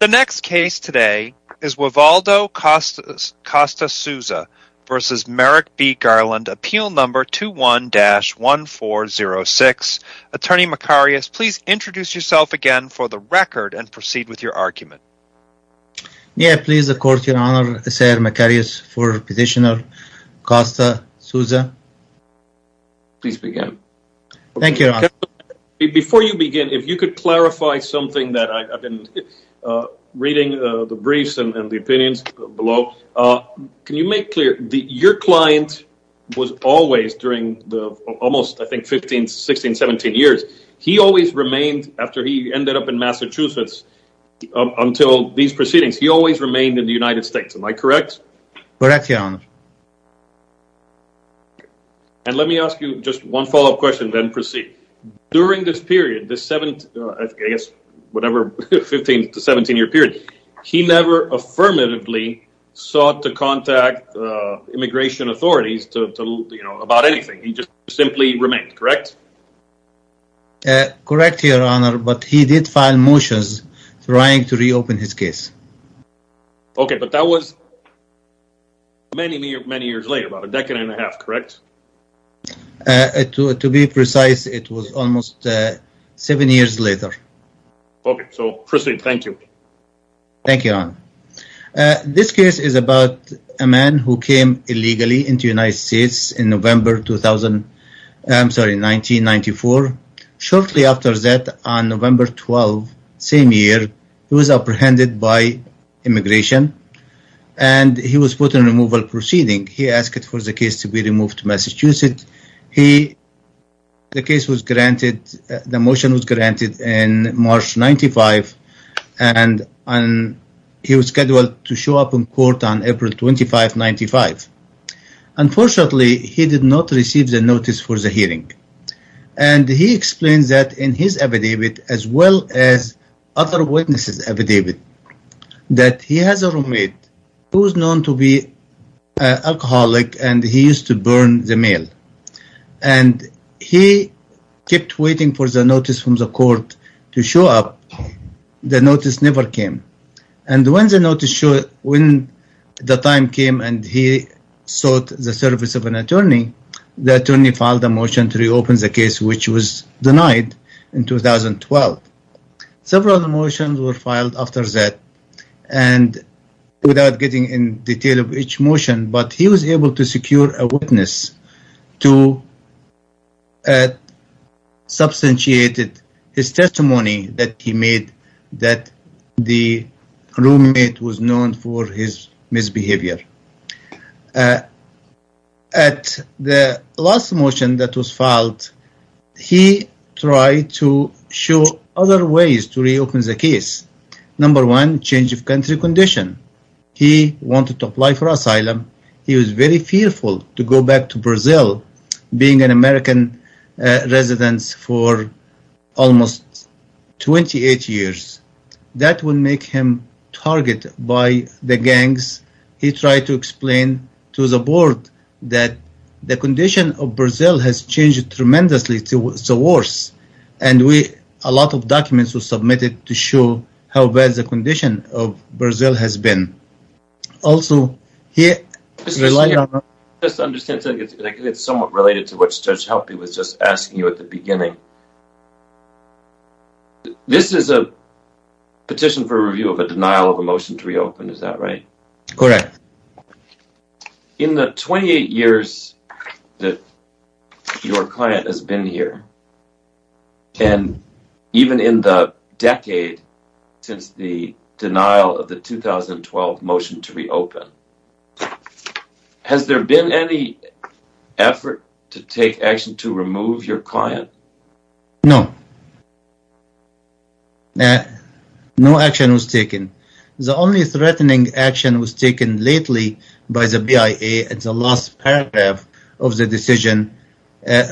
The next case today is Wivaldo Costa-Souza v. Merrick B. Garland, Appeal No. 21-1406. Attorney Macarius, please introduce yourself again for the record and proceed with your argument. May I please, Your Honor, Senator Macarius, for Petitioner Costa-Souza? Please begin. Thank you, Your Honor. Before you begin, if you could clarify something that I've been reading the briefs and the opinions below. Can you make clear that your client was always, during the almost, I think, 15, 16, 17 years, he always remained, after he ended up in Massachusetts, until these proceedings, he always remained in the United States. Am I correct? Correct, Your Honor. And let me ask you just one follow-up question, then proceed. During this period, this, I guess, whatever, 15 to 17 year period, he never affirmatively sought to contact immigration authorities to, you know, about anything. He just simply remained, correct? Correct, Your Honor, but he did file motions trying to reopen his case. Okay, but that was many, many years later, about a decade and a half, correct? To be precise, it was almost seven years later. Okay, so proceed. Thank you. Thank you, Your Honor. This case is about a man who came illegally into the United States in November 2000, I'm sorry, 1994. Shortly after that, on November 12, same year, he was apprehended by immigration and he was put in a removal proceeding. He asked for the case to be removed to Massachusetts. The case was granted, the motion was granted in March 95, and he was scheduled to show up in court on April 25, 95. Unfortunately, he did not receive the notice for the hearing, and he explained that in his affidavit, as well as other witnesses' affidavit, that he has a roommate who was known to be an alcoholic and he used to burn the mail, and he kept waiting for the notice from the court to show up. The notice never came. And when the time came and he sought the service of an attorney, the attorney filed a motion to reopen the case, which was denied in 2012. Several of the motions were filed after that, and without getting in detail of each motion, but he was able to secure a witness to substantiate his testimony that he made that the roommate was known for his misbehavior. At the last motion that was filed, he tried to show other ways to reopen the case. Number one, change of country condition. He wanted to apply for asylum. He was very fearful to go back to Brazil, being an American resident for almost 28 years. That would make him targeted by the gangs. He tried to explain to the board that the condition of Brazil has changed tremendously to worse, and a lot of documents were submitted to show how bad the condition of Brazil has been. Also, he relied on... Just to understand, it's somewhat related to what Judge Helpy was just asking you at the beginning. This is a petition for review of a denial of a motion to reopen, is that right? Correct. In the 28 years that your client has been here, and even in the decade since the denial of the 2012 motion to reopen, has there been any effort to take action to remove your client? No. No action was taken. The only threatening action was taken lately by the BIA at the last paragraph of the decision,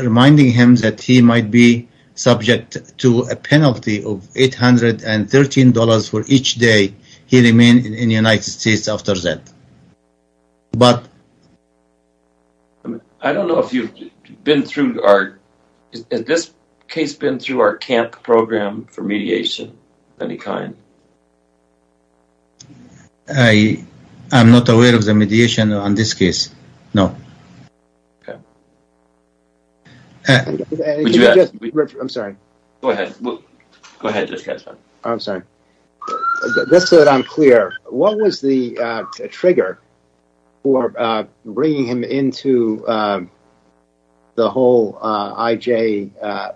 reminding him that he might be subject to a penalty of $813 for each day he remained in the United States after that. I don't know if you've been through our... Has this case been through our CAMP program for mediation of any kind? I'm not aware of the mediation on this case, no. Would you ask... I'm sorry. Go ahead. Go ahead. I'm sorry. Just so that I'm clear, what was the trigger for bringing him into the whole IJ-BIA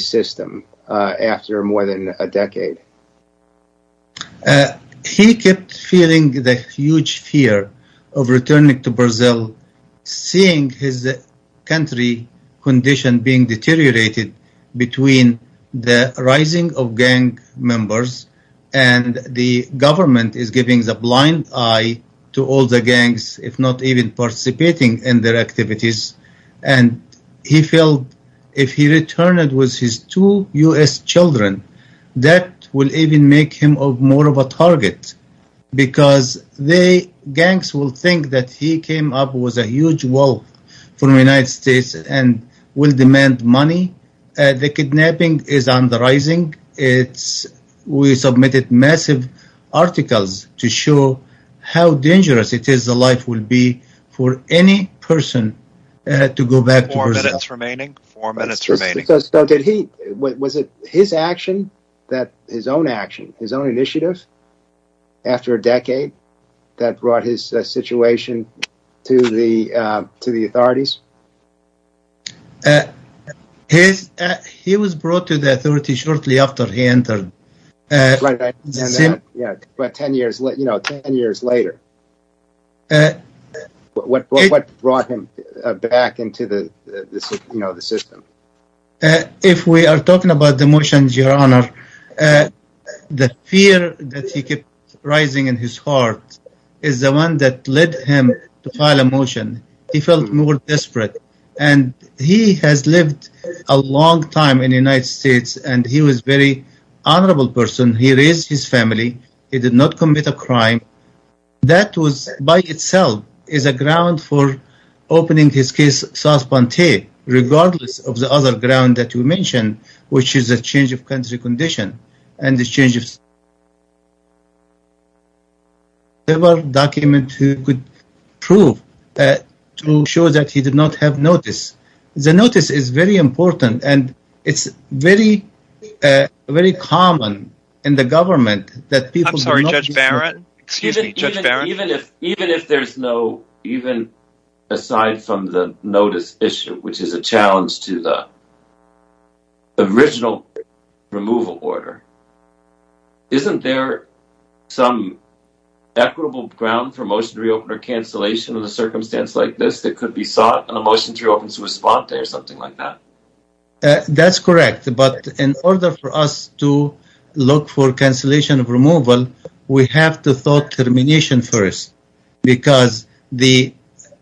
system after more than a decade? He kept feeling the huge fear of returning to Brazil, seeing his country condition being deteriorated between the rising of gang members, and the government is giving the blind eye to all the gangs, if not even participating in their activities, and he felt if he returned with his two U.S. children, that would even make him more of a target, because the gangs will think that he came up with a huge wealth from the United States and will demand money. The kidnapping is on the rising. We submitted massive articles to show how dangerous it is the life will be for any person to go back to Brazil. Four minutes remaining. Four minutes remaining. Was it his action, his own action, his own initiative, after a decade, that brought his situation to the authorities? He was brought to the authorities shortly after he entered. Right. Ten years later, what brought him back into the system? If we are talking about the motions, your honor, the fear that he kept rising in his heart is the one that led him to file a motion. He felt more desperate, and he has lived a long time in the United States, and he was a very honorable person. He raised his family. He did not commit a crime. That was, by itself, is a ground for opening his case, Saas-Ponte, regardless of the other ground that you mentioned, which is a change of country condition and the changes. There were documents he could prove to show that he did not have notice. The notice is very important, and it's very common in the government that people do not I'm sorry, Judge Barrett? Excuse me, Judge Barrett? Even if there's no, even aside from the notice issue, which is a challenge to the original removal order, isn't there some equitable ground for motion to reopen or cancellation of a circumstance like this that could be sought on a motion to reopen Saas-Ponte or something like that? That's correct, but in order for us to look for cancellation of removal, we have to thought termination first, because the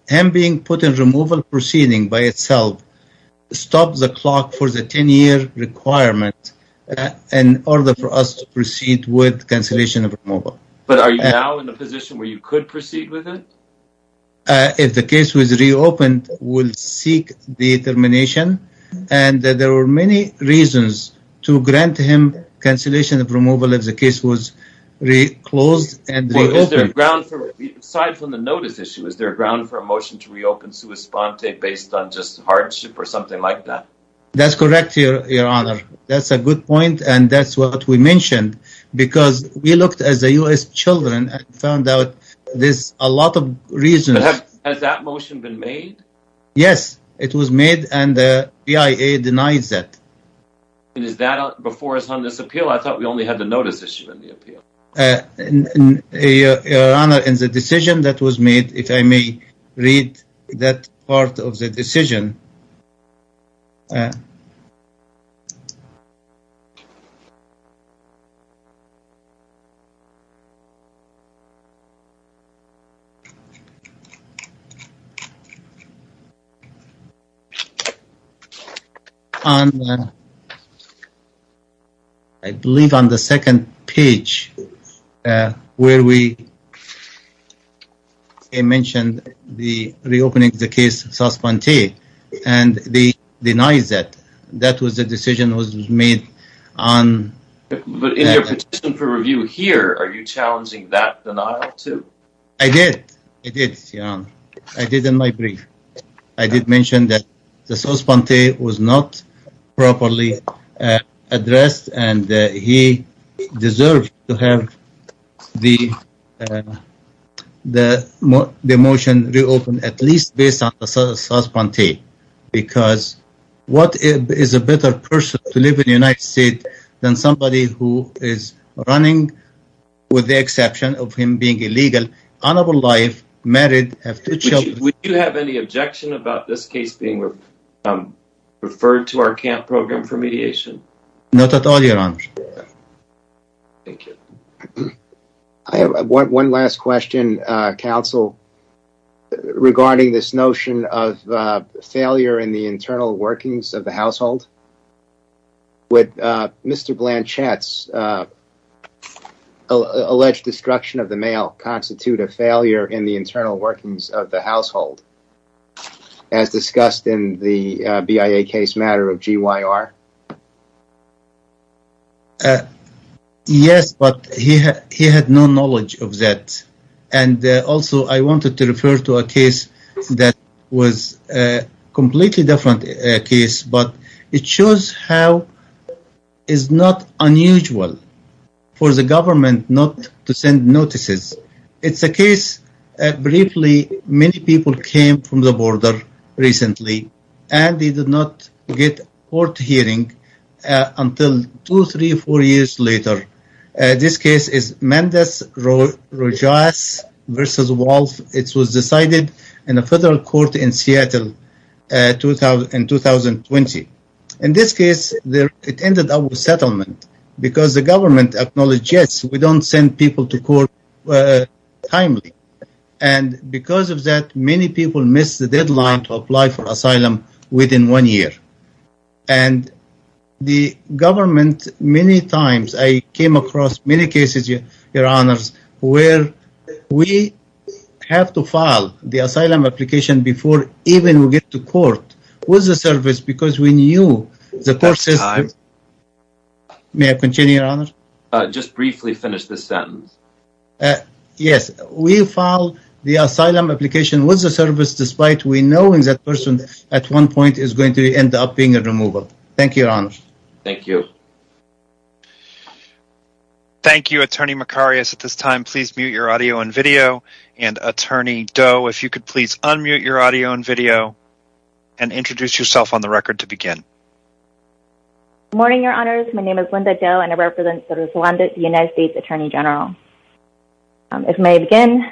him being put in removal proceeding by itself stops the clock for the 10-year requirement in order for us to proceed with cancellation of removal. But are you now in a position where you could proceed with it? If the case was reopened, we'll seek the termination. And there were many reasons to grant him cancellation of removal if the case was reclosed and reopened. Aside from the notice issue, is there a ground for a motion to reopen Saas-Ponte based on just hardship or something like that? That's correct, Your Honor. That's a good point, and that's what we mentioned, because we looked at the U.S. children and found out there's a lot of reasons. Has that motion been made? Yes, it was made, and the BIA denies that. Is that before this appeal? I thought we only had the notice issue in the appeal. Your Honor, in the decision that was made, if I may read that part of the decision. I believe on the second page where we mentioned reopening the case of Saas-Ponte, and they denied that. That was the decision that was made. But in your petition for review here, are you challenging that denial, too? I did. I did, Your Honor. I did in my brief. I did mention that the Saas-Ponte was not properly addressed, and he deserved to have the motion reopened, at least based on the Saas-Ponte. Because what is a better person to live in the United States than somebody who is running, with the exception of him being illegal, honorable life, married, have two children? Would you have any objection about this case being referred to our camp program for mediation? Not at all, Your Honor. Thank you. I have one last question, counsel, regarding this notion of failure in the internal workings of the household. Would Mr. Blanchett's alleged destruction of the male constitute a failure in the internal workings of the household, as discussed in the BIA case matter of GYR? Yes, but he had no knowledge of that. And also, I wanted to refer to a case that was a completely different case, but it shows how it's not unusual for the government not to send notices. It's a case that, briefly, many people came from the border recently, and they did not get a court hearing until two, three, four years later. This case is Mendez Rojas v. Wolf. It was decided in a federal court in Seattle in 2020. In this case, it ended up with settlement, because the government acknowledged, yes, we don't send people to court timely. And because of that, many people missed the deadline to apply for asylum within one year. And the government, many times, I came across many cases, Your Honors, where we have to file the asylum application before even we get to court with the service, because we knew the court system. May I continue, Your Honors? Just briefly finish this sentence. Yes, we filed the asylum application with the service, despite we knowing that person at one point is going to end up being a removal. Thank you, Your Honors. Thank you. Thank you, Attorney Macarius. At this time, please mute your audio and video. And, Attorney Doe, if you could please unmute your audio and video and introduce yourself on the record to begin. Good morning, Your Honors. My name is Linda Doe, and I represent the United States Attorney General. If I may begin,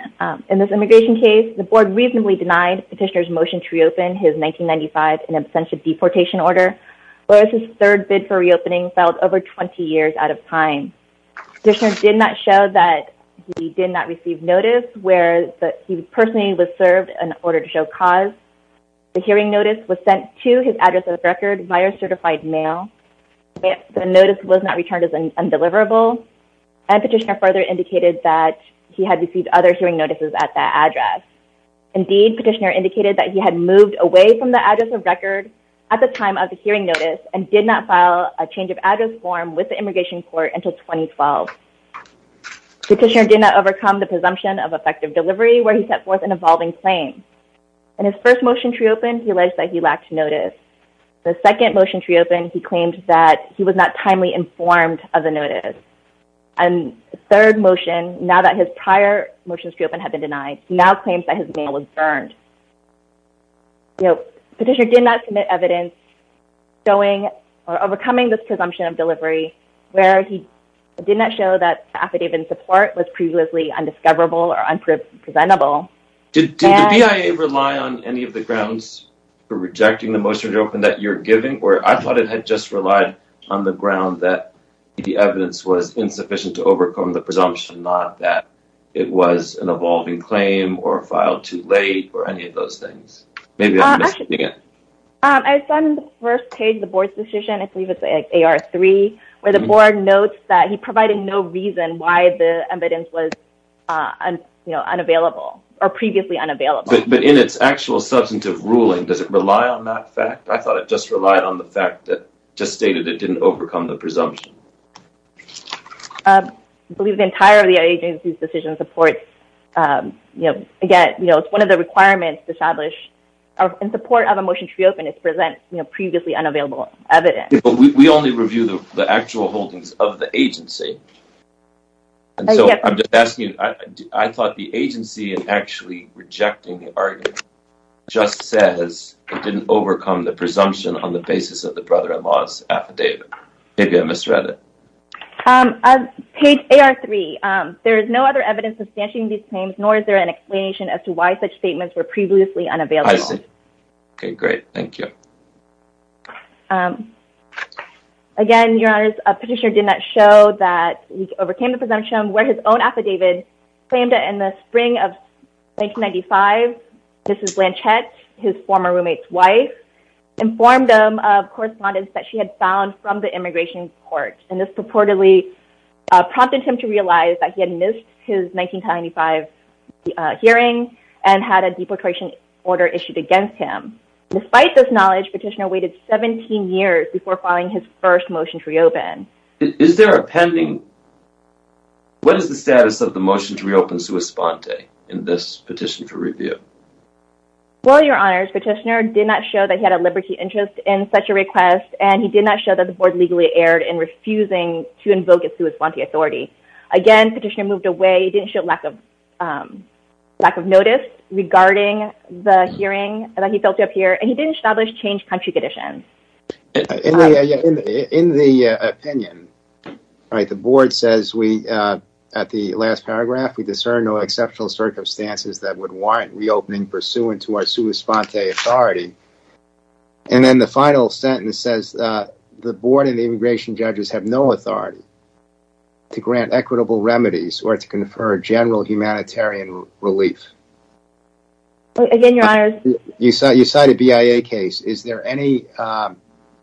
in this immigration case, the Board reasonably denied Petitioner's motion to reopen his 1995 and absentia deportation order, whereas his third bid for reopening fell over 20 years out of time. Petitioner did not show that he did not receive notice, where he personally was served an order to show cause. The hearing notice was sent to his address on the record via certified mail. The notice was not returned as undeliverable, and Petitioner further indicated that he had received other hearing notices at that address. Indeed, Petitioner indicated that he had moved away from the address of record at the time of the hearing notice and did not file a change of address form with the immigration court until 2012. Petitioner did not overcome the presumption of effective delivery, where he set forth an evolving claim. In his first motion to reopen, he alleged that he lacked notice. In the second motion to reopen, he claimed that he was not timely informed of the notice. In the third motion, now that his prior motions to reopen had been denied, he now claims that his mail was burned. Petitioner did not submit evidence overcoming this presumption of delivery, where he did not show that affidavit in support was previously undiscoverable or unpresentable. Did the BIA rely on any of the grounds for rejecting the motion to open that you're giving, or I thought it had just relied on the ground that the evidence was insufficient to overcome the presumption, not that it was an evolving claim or filed too late or any of those things. Maybe I'm mishearing it. I saw in the first page of the board's decision, I believe it's AR3, where the board notes that he provided no reason why the evidence was unavailable or previously unavailable. But in its actual substantive ruling, does it rely on that fact? I thought it just relied on the fact that it just stated it didn't overcome the presumption. I believe the entire of the agency's decision supports, again, it's one of the requirements to establish in support of a motion to reopen is to present previously unavailable evidence. But we only review the actual holdings of the agency. And so I'm just asking, I thought the agency in actually rejecting the argument just says it didn't overcome the presumption on the basis of the brother-in-law's affidavit. Maybe I misread it. Page AR3, there is no other evidence substantiating these claims, nor is there an explanation as to why such statements were previously unavailable. I see. OK, great. Thank you. Again, Your Honor, a petitioner did not show that he overcame the presumption where his own affidavit claimed that in the spring of 1995, Mrs. Blanchett, his former roommate's wife, informed them of correspondence that she had found from the immigration court. And this purportedly prompted him to realize that he had missed his 1995 hearing and had a deportation order issued against him. Despite this knowledge, petitioner waited 17 years before filing his first motion to reopen. Is there a pending? What is the status of the motion to reopen Sua Sponte in this petition for review? Well, Your Honor, petitioner did not show that he had a liberty interest in such a request, and he did not show that the board legally erred in refusing to invoke a Sua Sponte authority. Again, petitioner moved away, didn't show lack of notice regarding the hearing that he felt up here, and he didn't establish changed country conditions. In the opinion, the board says we at the last paragraph, we discern no exceptional circumstances that would warrant reopening pursuant to our Sua Sponte authority. And then the final sentence says the board and the immigration judges have no authority to grant equitable remedies or to confer general humanitarian relief. Again, Your Honor. You cite a BIA case. Is there any, you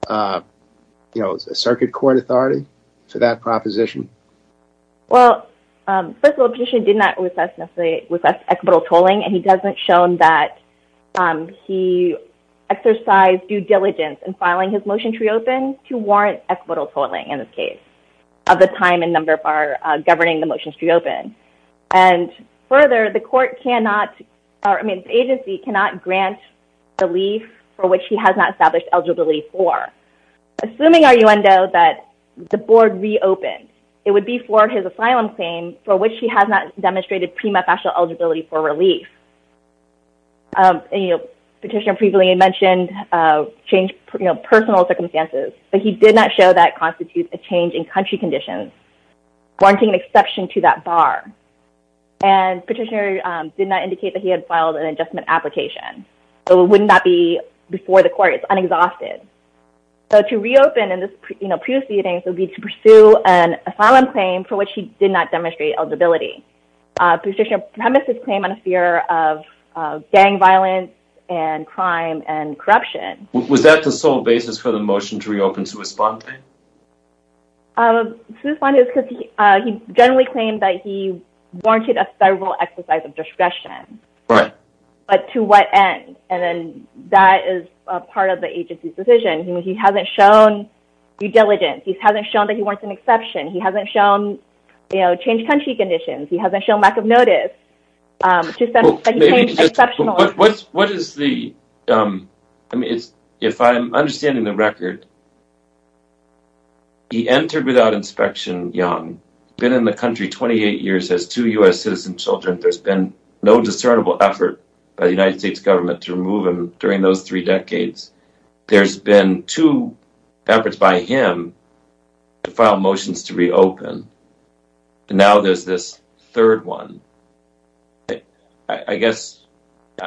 know, a circuit court authority to that proposition? Well, first of all, petitioner did not request equitable tolling, and he doesn't show that he exercised due diligence in filing his motion to reopen to warrant equitable tolling, in this case, of the time and number for governing the motions to reopen. And further, the court cannot, I mean, the agency cannot grant relief for which he has not established eligibility for. Assuming, Your Honor, that the board reopened, it would be for his asylum claim for which he has not demonstrated prima facie eligibility for relief. You know, petitioner previously mentioned change, you know, personal circumstances, but he did not show that constitutes a change in country conditions, warranting an exception to that bar. And petitioner did not indicate that he had filed an adjustment application. So it would not be before the court. It's unexhausted. So to reopen in this, you know, proceeding would be to pursue an asylum claim for which he did not demonstrate eligibility. Petitioner premised his claim on a fear of gang violence and crime and corruption. Was that the sole basis for the motion to reopen to respond? To respond is because he generally claimed that he warranted a federal exercise of discretion. Right. But to what end? And then that is part of the agency's decision. I mean, he hasn't shown due diligence. He hasn't shown that he wants an exception. He hasn't shown, you know, change country conditions. He hasn't shown lack of notice. What is the I mean, it's if I'm understanding the record. He entered without inspection young, been in the country 28 years as two U.S. citizen children. There's been no discernible effort by the United States government to remove him during those three decades. There's been two efforts by him to file motions to reopen. And now there's this third one. I guess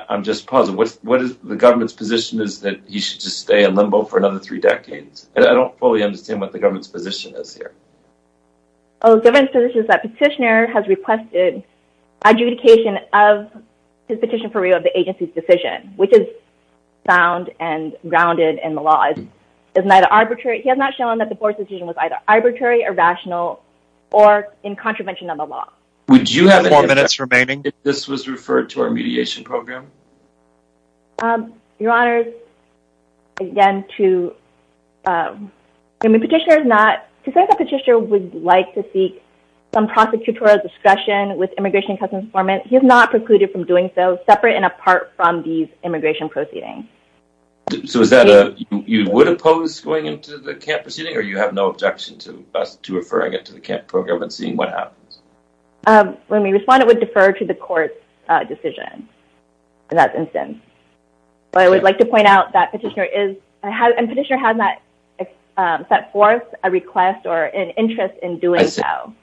I'm just puzzled. What is the government's position is that he should just stay in limbo for another three decades? I don't fully understand what the government's position is here. Oh, different positions that petitioner has requested adjudication of his petition for review of the agency's decision, which is found and grounded in the law is neither arbitrary. He has not shown that the board's decision was either arbitrary or rational or in contravention of the law. Would you have more minutes remaining? This was referred to our mediation program. Your Honor. Again, to the petitioner is not to say that the petitioner would like to seek some prosecutorial discretion with immigration customs formant, he has not precluded from doing so separate and apart from these immigration proceedings. So is that you would oppose going into the camp proceeding or you have no objection to us to referring it to the camp program and seeing what happens? When we respond, it would defer to the court decision in that instance. I would like to point out that petitioner is a petitioner, has not set forth a request or an interest in doing so.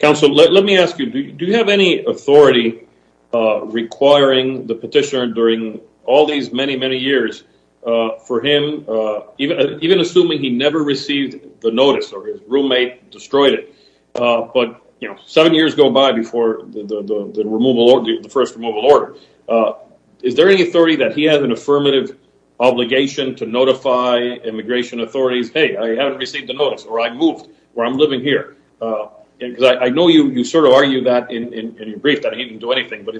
Counsel, let me ask you, do you have any authority requiring the petitioner during all these many, many years for him? Even even assuming he never received the notice or his roommate destroyed it. But, you know, seven years go by before the removal or the first removal order. Is there any authority that he has an affirmative obligation to notify immigration authorities? Hey, I haven't received the notice or I moved where I'm living here. I know you sort of argue that in your brief that he didn't do anything. To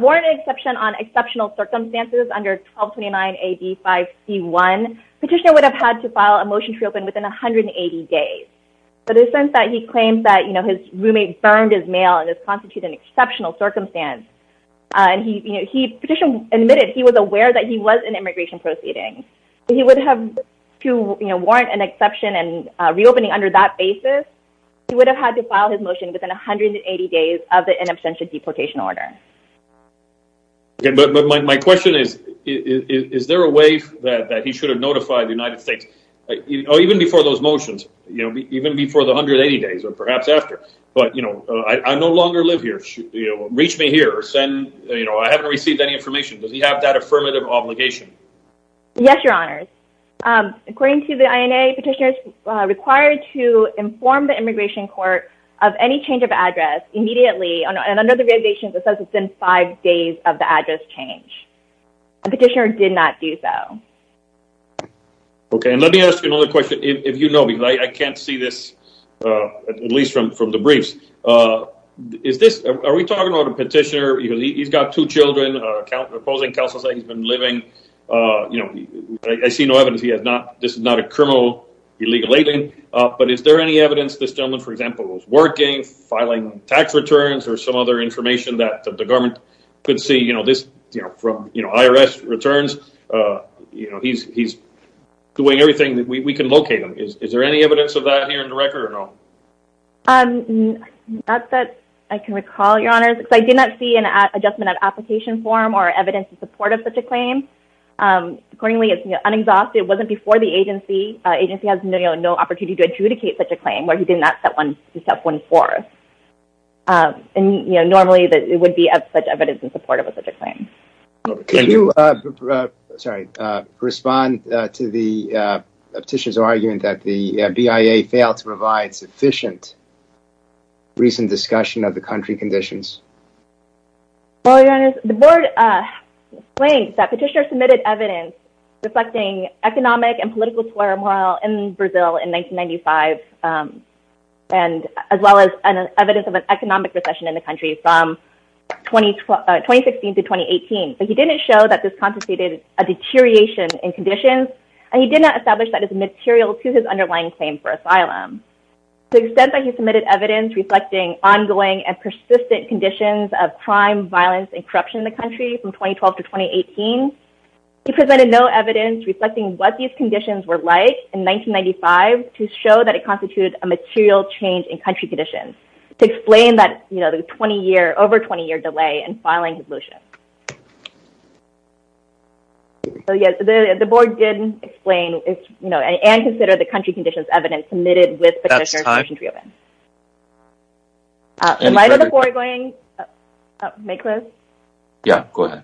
warrant an exception on exceptional circumstances under 1229 AB 5C1, petitioner would have had to file a motion to reopen within 180 days. But in the sense that he claims that, you know, his roommate burned his mail and this constitutes an exceptional circumstance. And he admitted he was aware that he was in immigration proceedings. He would have to warrant an exception and reopening under that basis. He would have had to file his motion within 180 days of the in absentia deportation order. But my question is, is there a way that he should have notified the United States even before those motions? You know, even before the 180 days or perhaps after. But, you know, I no longer live here. You know, reach me here or send. You know, I haven't received any information. Does he have that affirmative obligation? Yes, your honor. According to the INA, petitioner is required to inform the immigration court of any change of address immediately. And under the regulations, it says it's been five days of the address change. Petitioner did not do so. Okay. And let me ask you another question. If you know, because I can't see this, at least from from the briefs. Is this are we talking about a petitioner? He's got two children. He's been living. You know, I see no evidence. He has not. This is not a criminal illegal alien. But is there any evidence this gentleman, for example, is working, filing tax returns or some other information that the government could see? You know, this, you know, from, you know, IRS returns, you know, he's he's doing everything that we can locate him. Is there any evidence of that here in the record or not? Not that I can recall, your honors. I did not see an adjustment of application form or evidence in support of such a claim. Accordingly, it's unexhausted. It wasn't before the agency. Agency has no opportunity to adjudicate such a claim where he did not set one step one for. And, you know, normally it would be as such evidence in support of a such a claim. Sorry. Respond to the petitioner's argument that the BIA failed to provide sufficient. Recent discussion of the country conditions. The board claims that petitioner submitted evidence reflecting economic and political turmoil in Brazil in 1995. And as well as an evidence of an economic recession in the country from 2016 to 2018. But he didn't show that this compensated a deterioration in conditions. And he did not establish that as material to his underlying claim for asylum. The extent that he submitted evidence reflecting ongoing and persistent conditions of crime, violence and corruption in the country from 2012 to 2018. He presented no evidence reflecting what these conditions were like in 1995 to show that it constituted a material change in country conditions. To explain that, you know, the 20-year, over 20-year delay in filing his motion. So, yes, the board did explain, you know, and consider the country conditions evidence submitted with petitioner's motion to reopen. In light of the foregoing. May I close? Yeah, go ahead.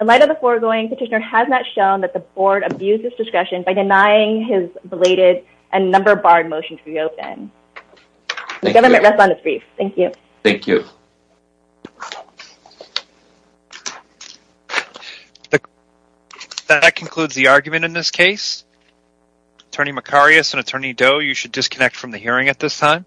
In light of the foregoing, petitioner has not shown that the board abused his discretion by denying his belated and number barred motion to reopen. The government rests on its grief. Thank you. Thank you. That concludes the argument in this case. Attorney Macarius and Attorney Doe, you should disconnect from the hearing at this time.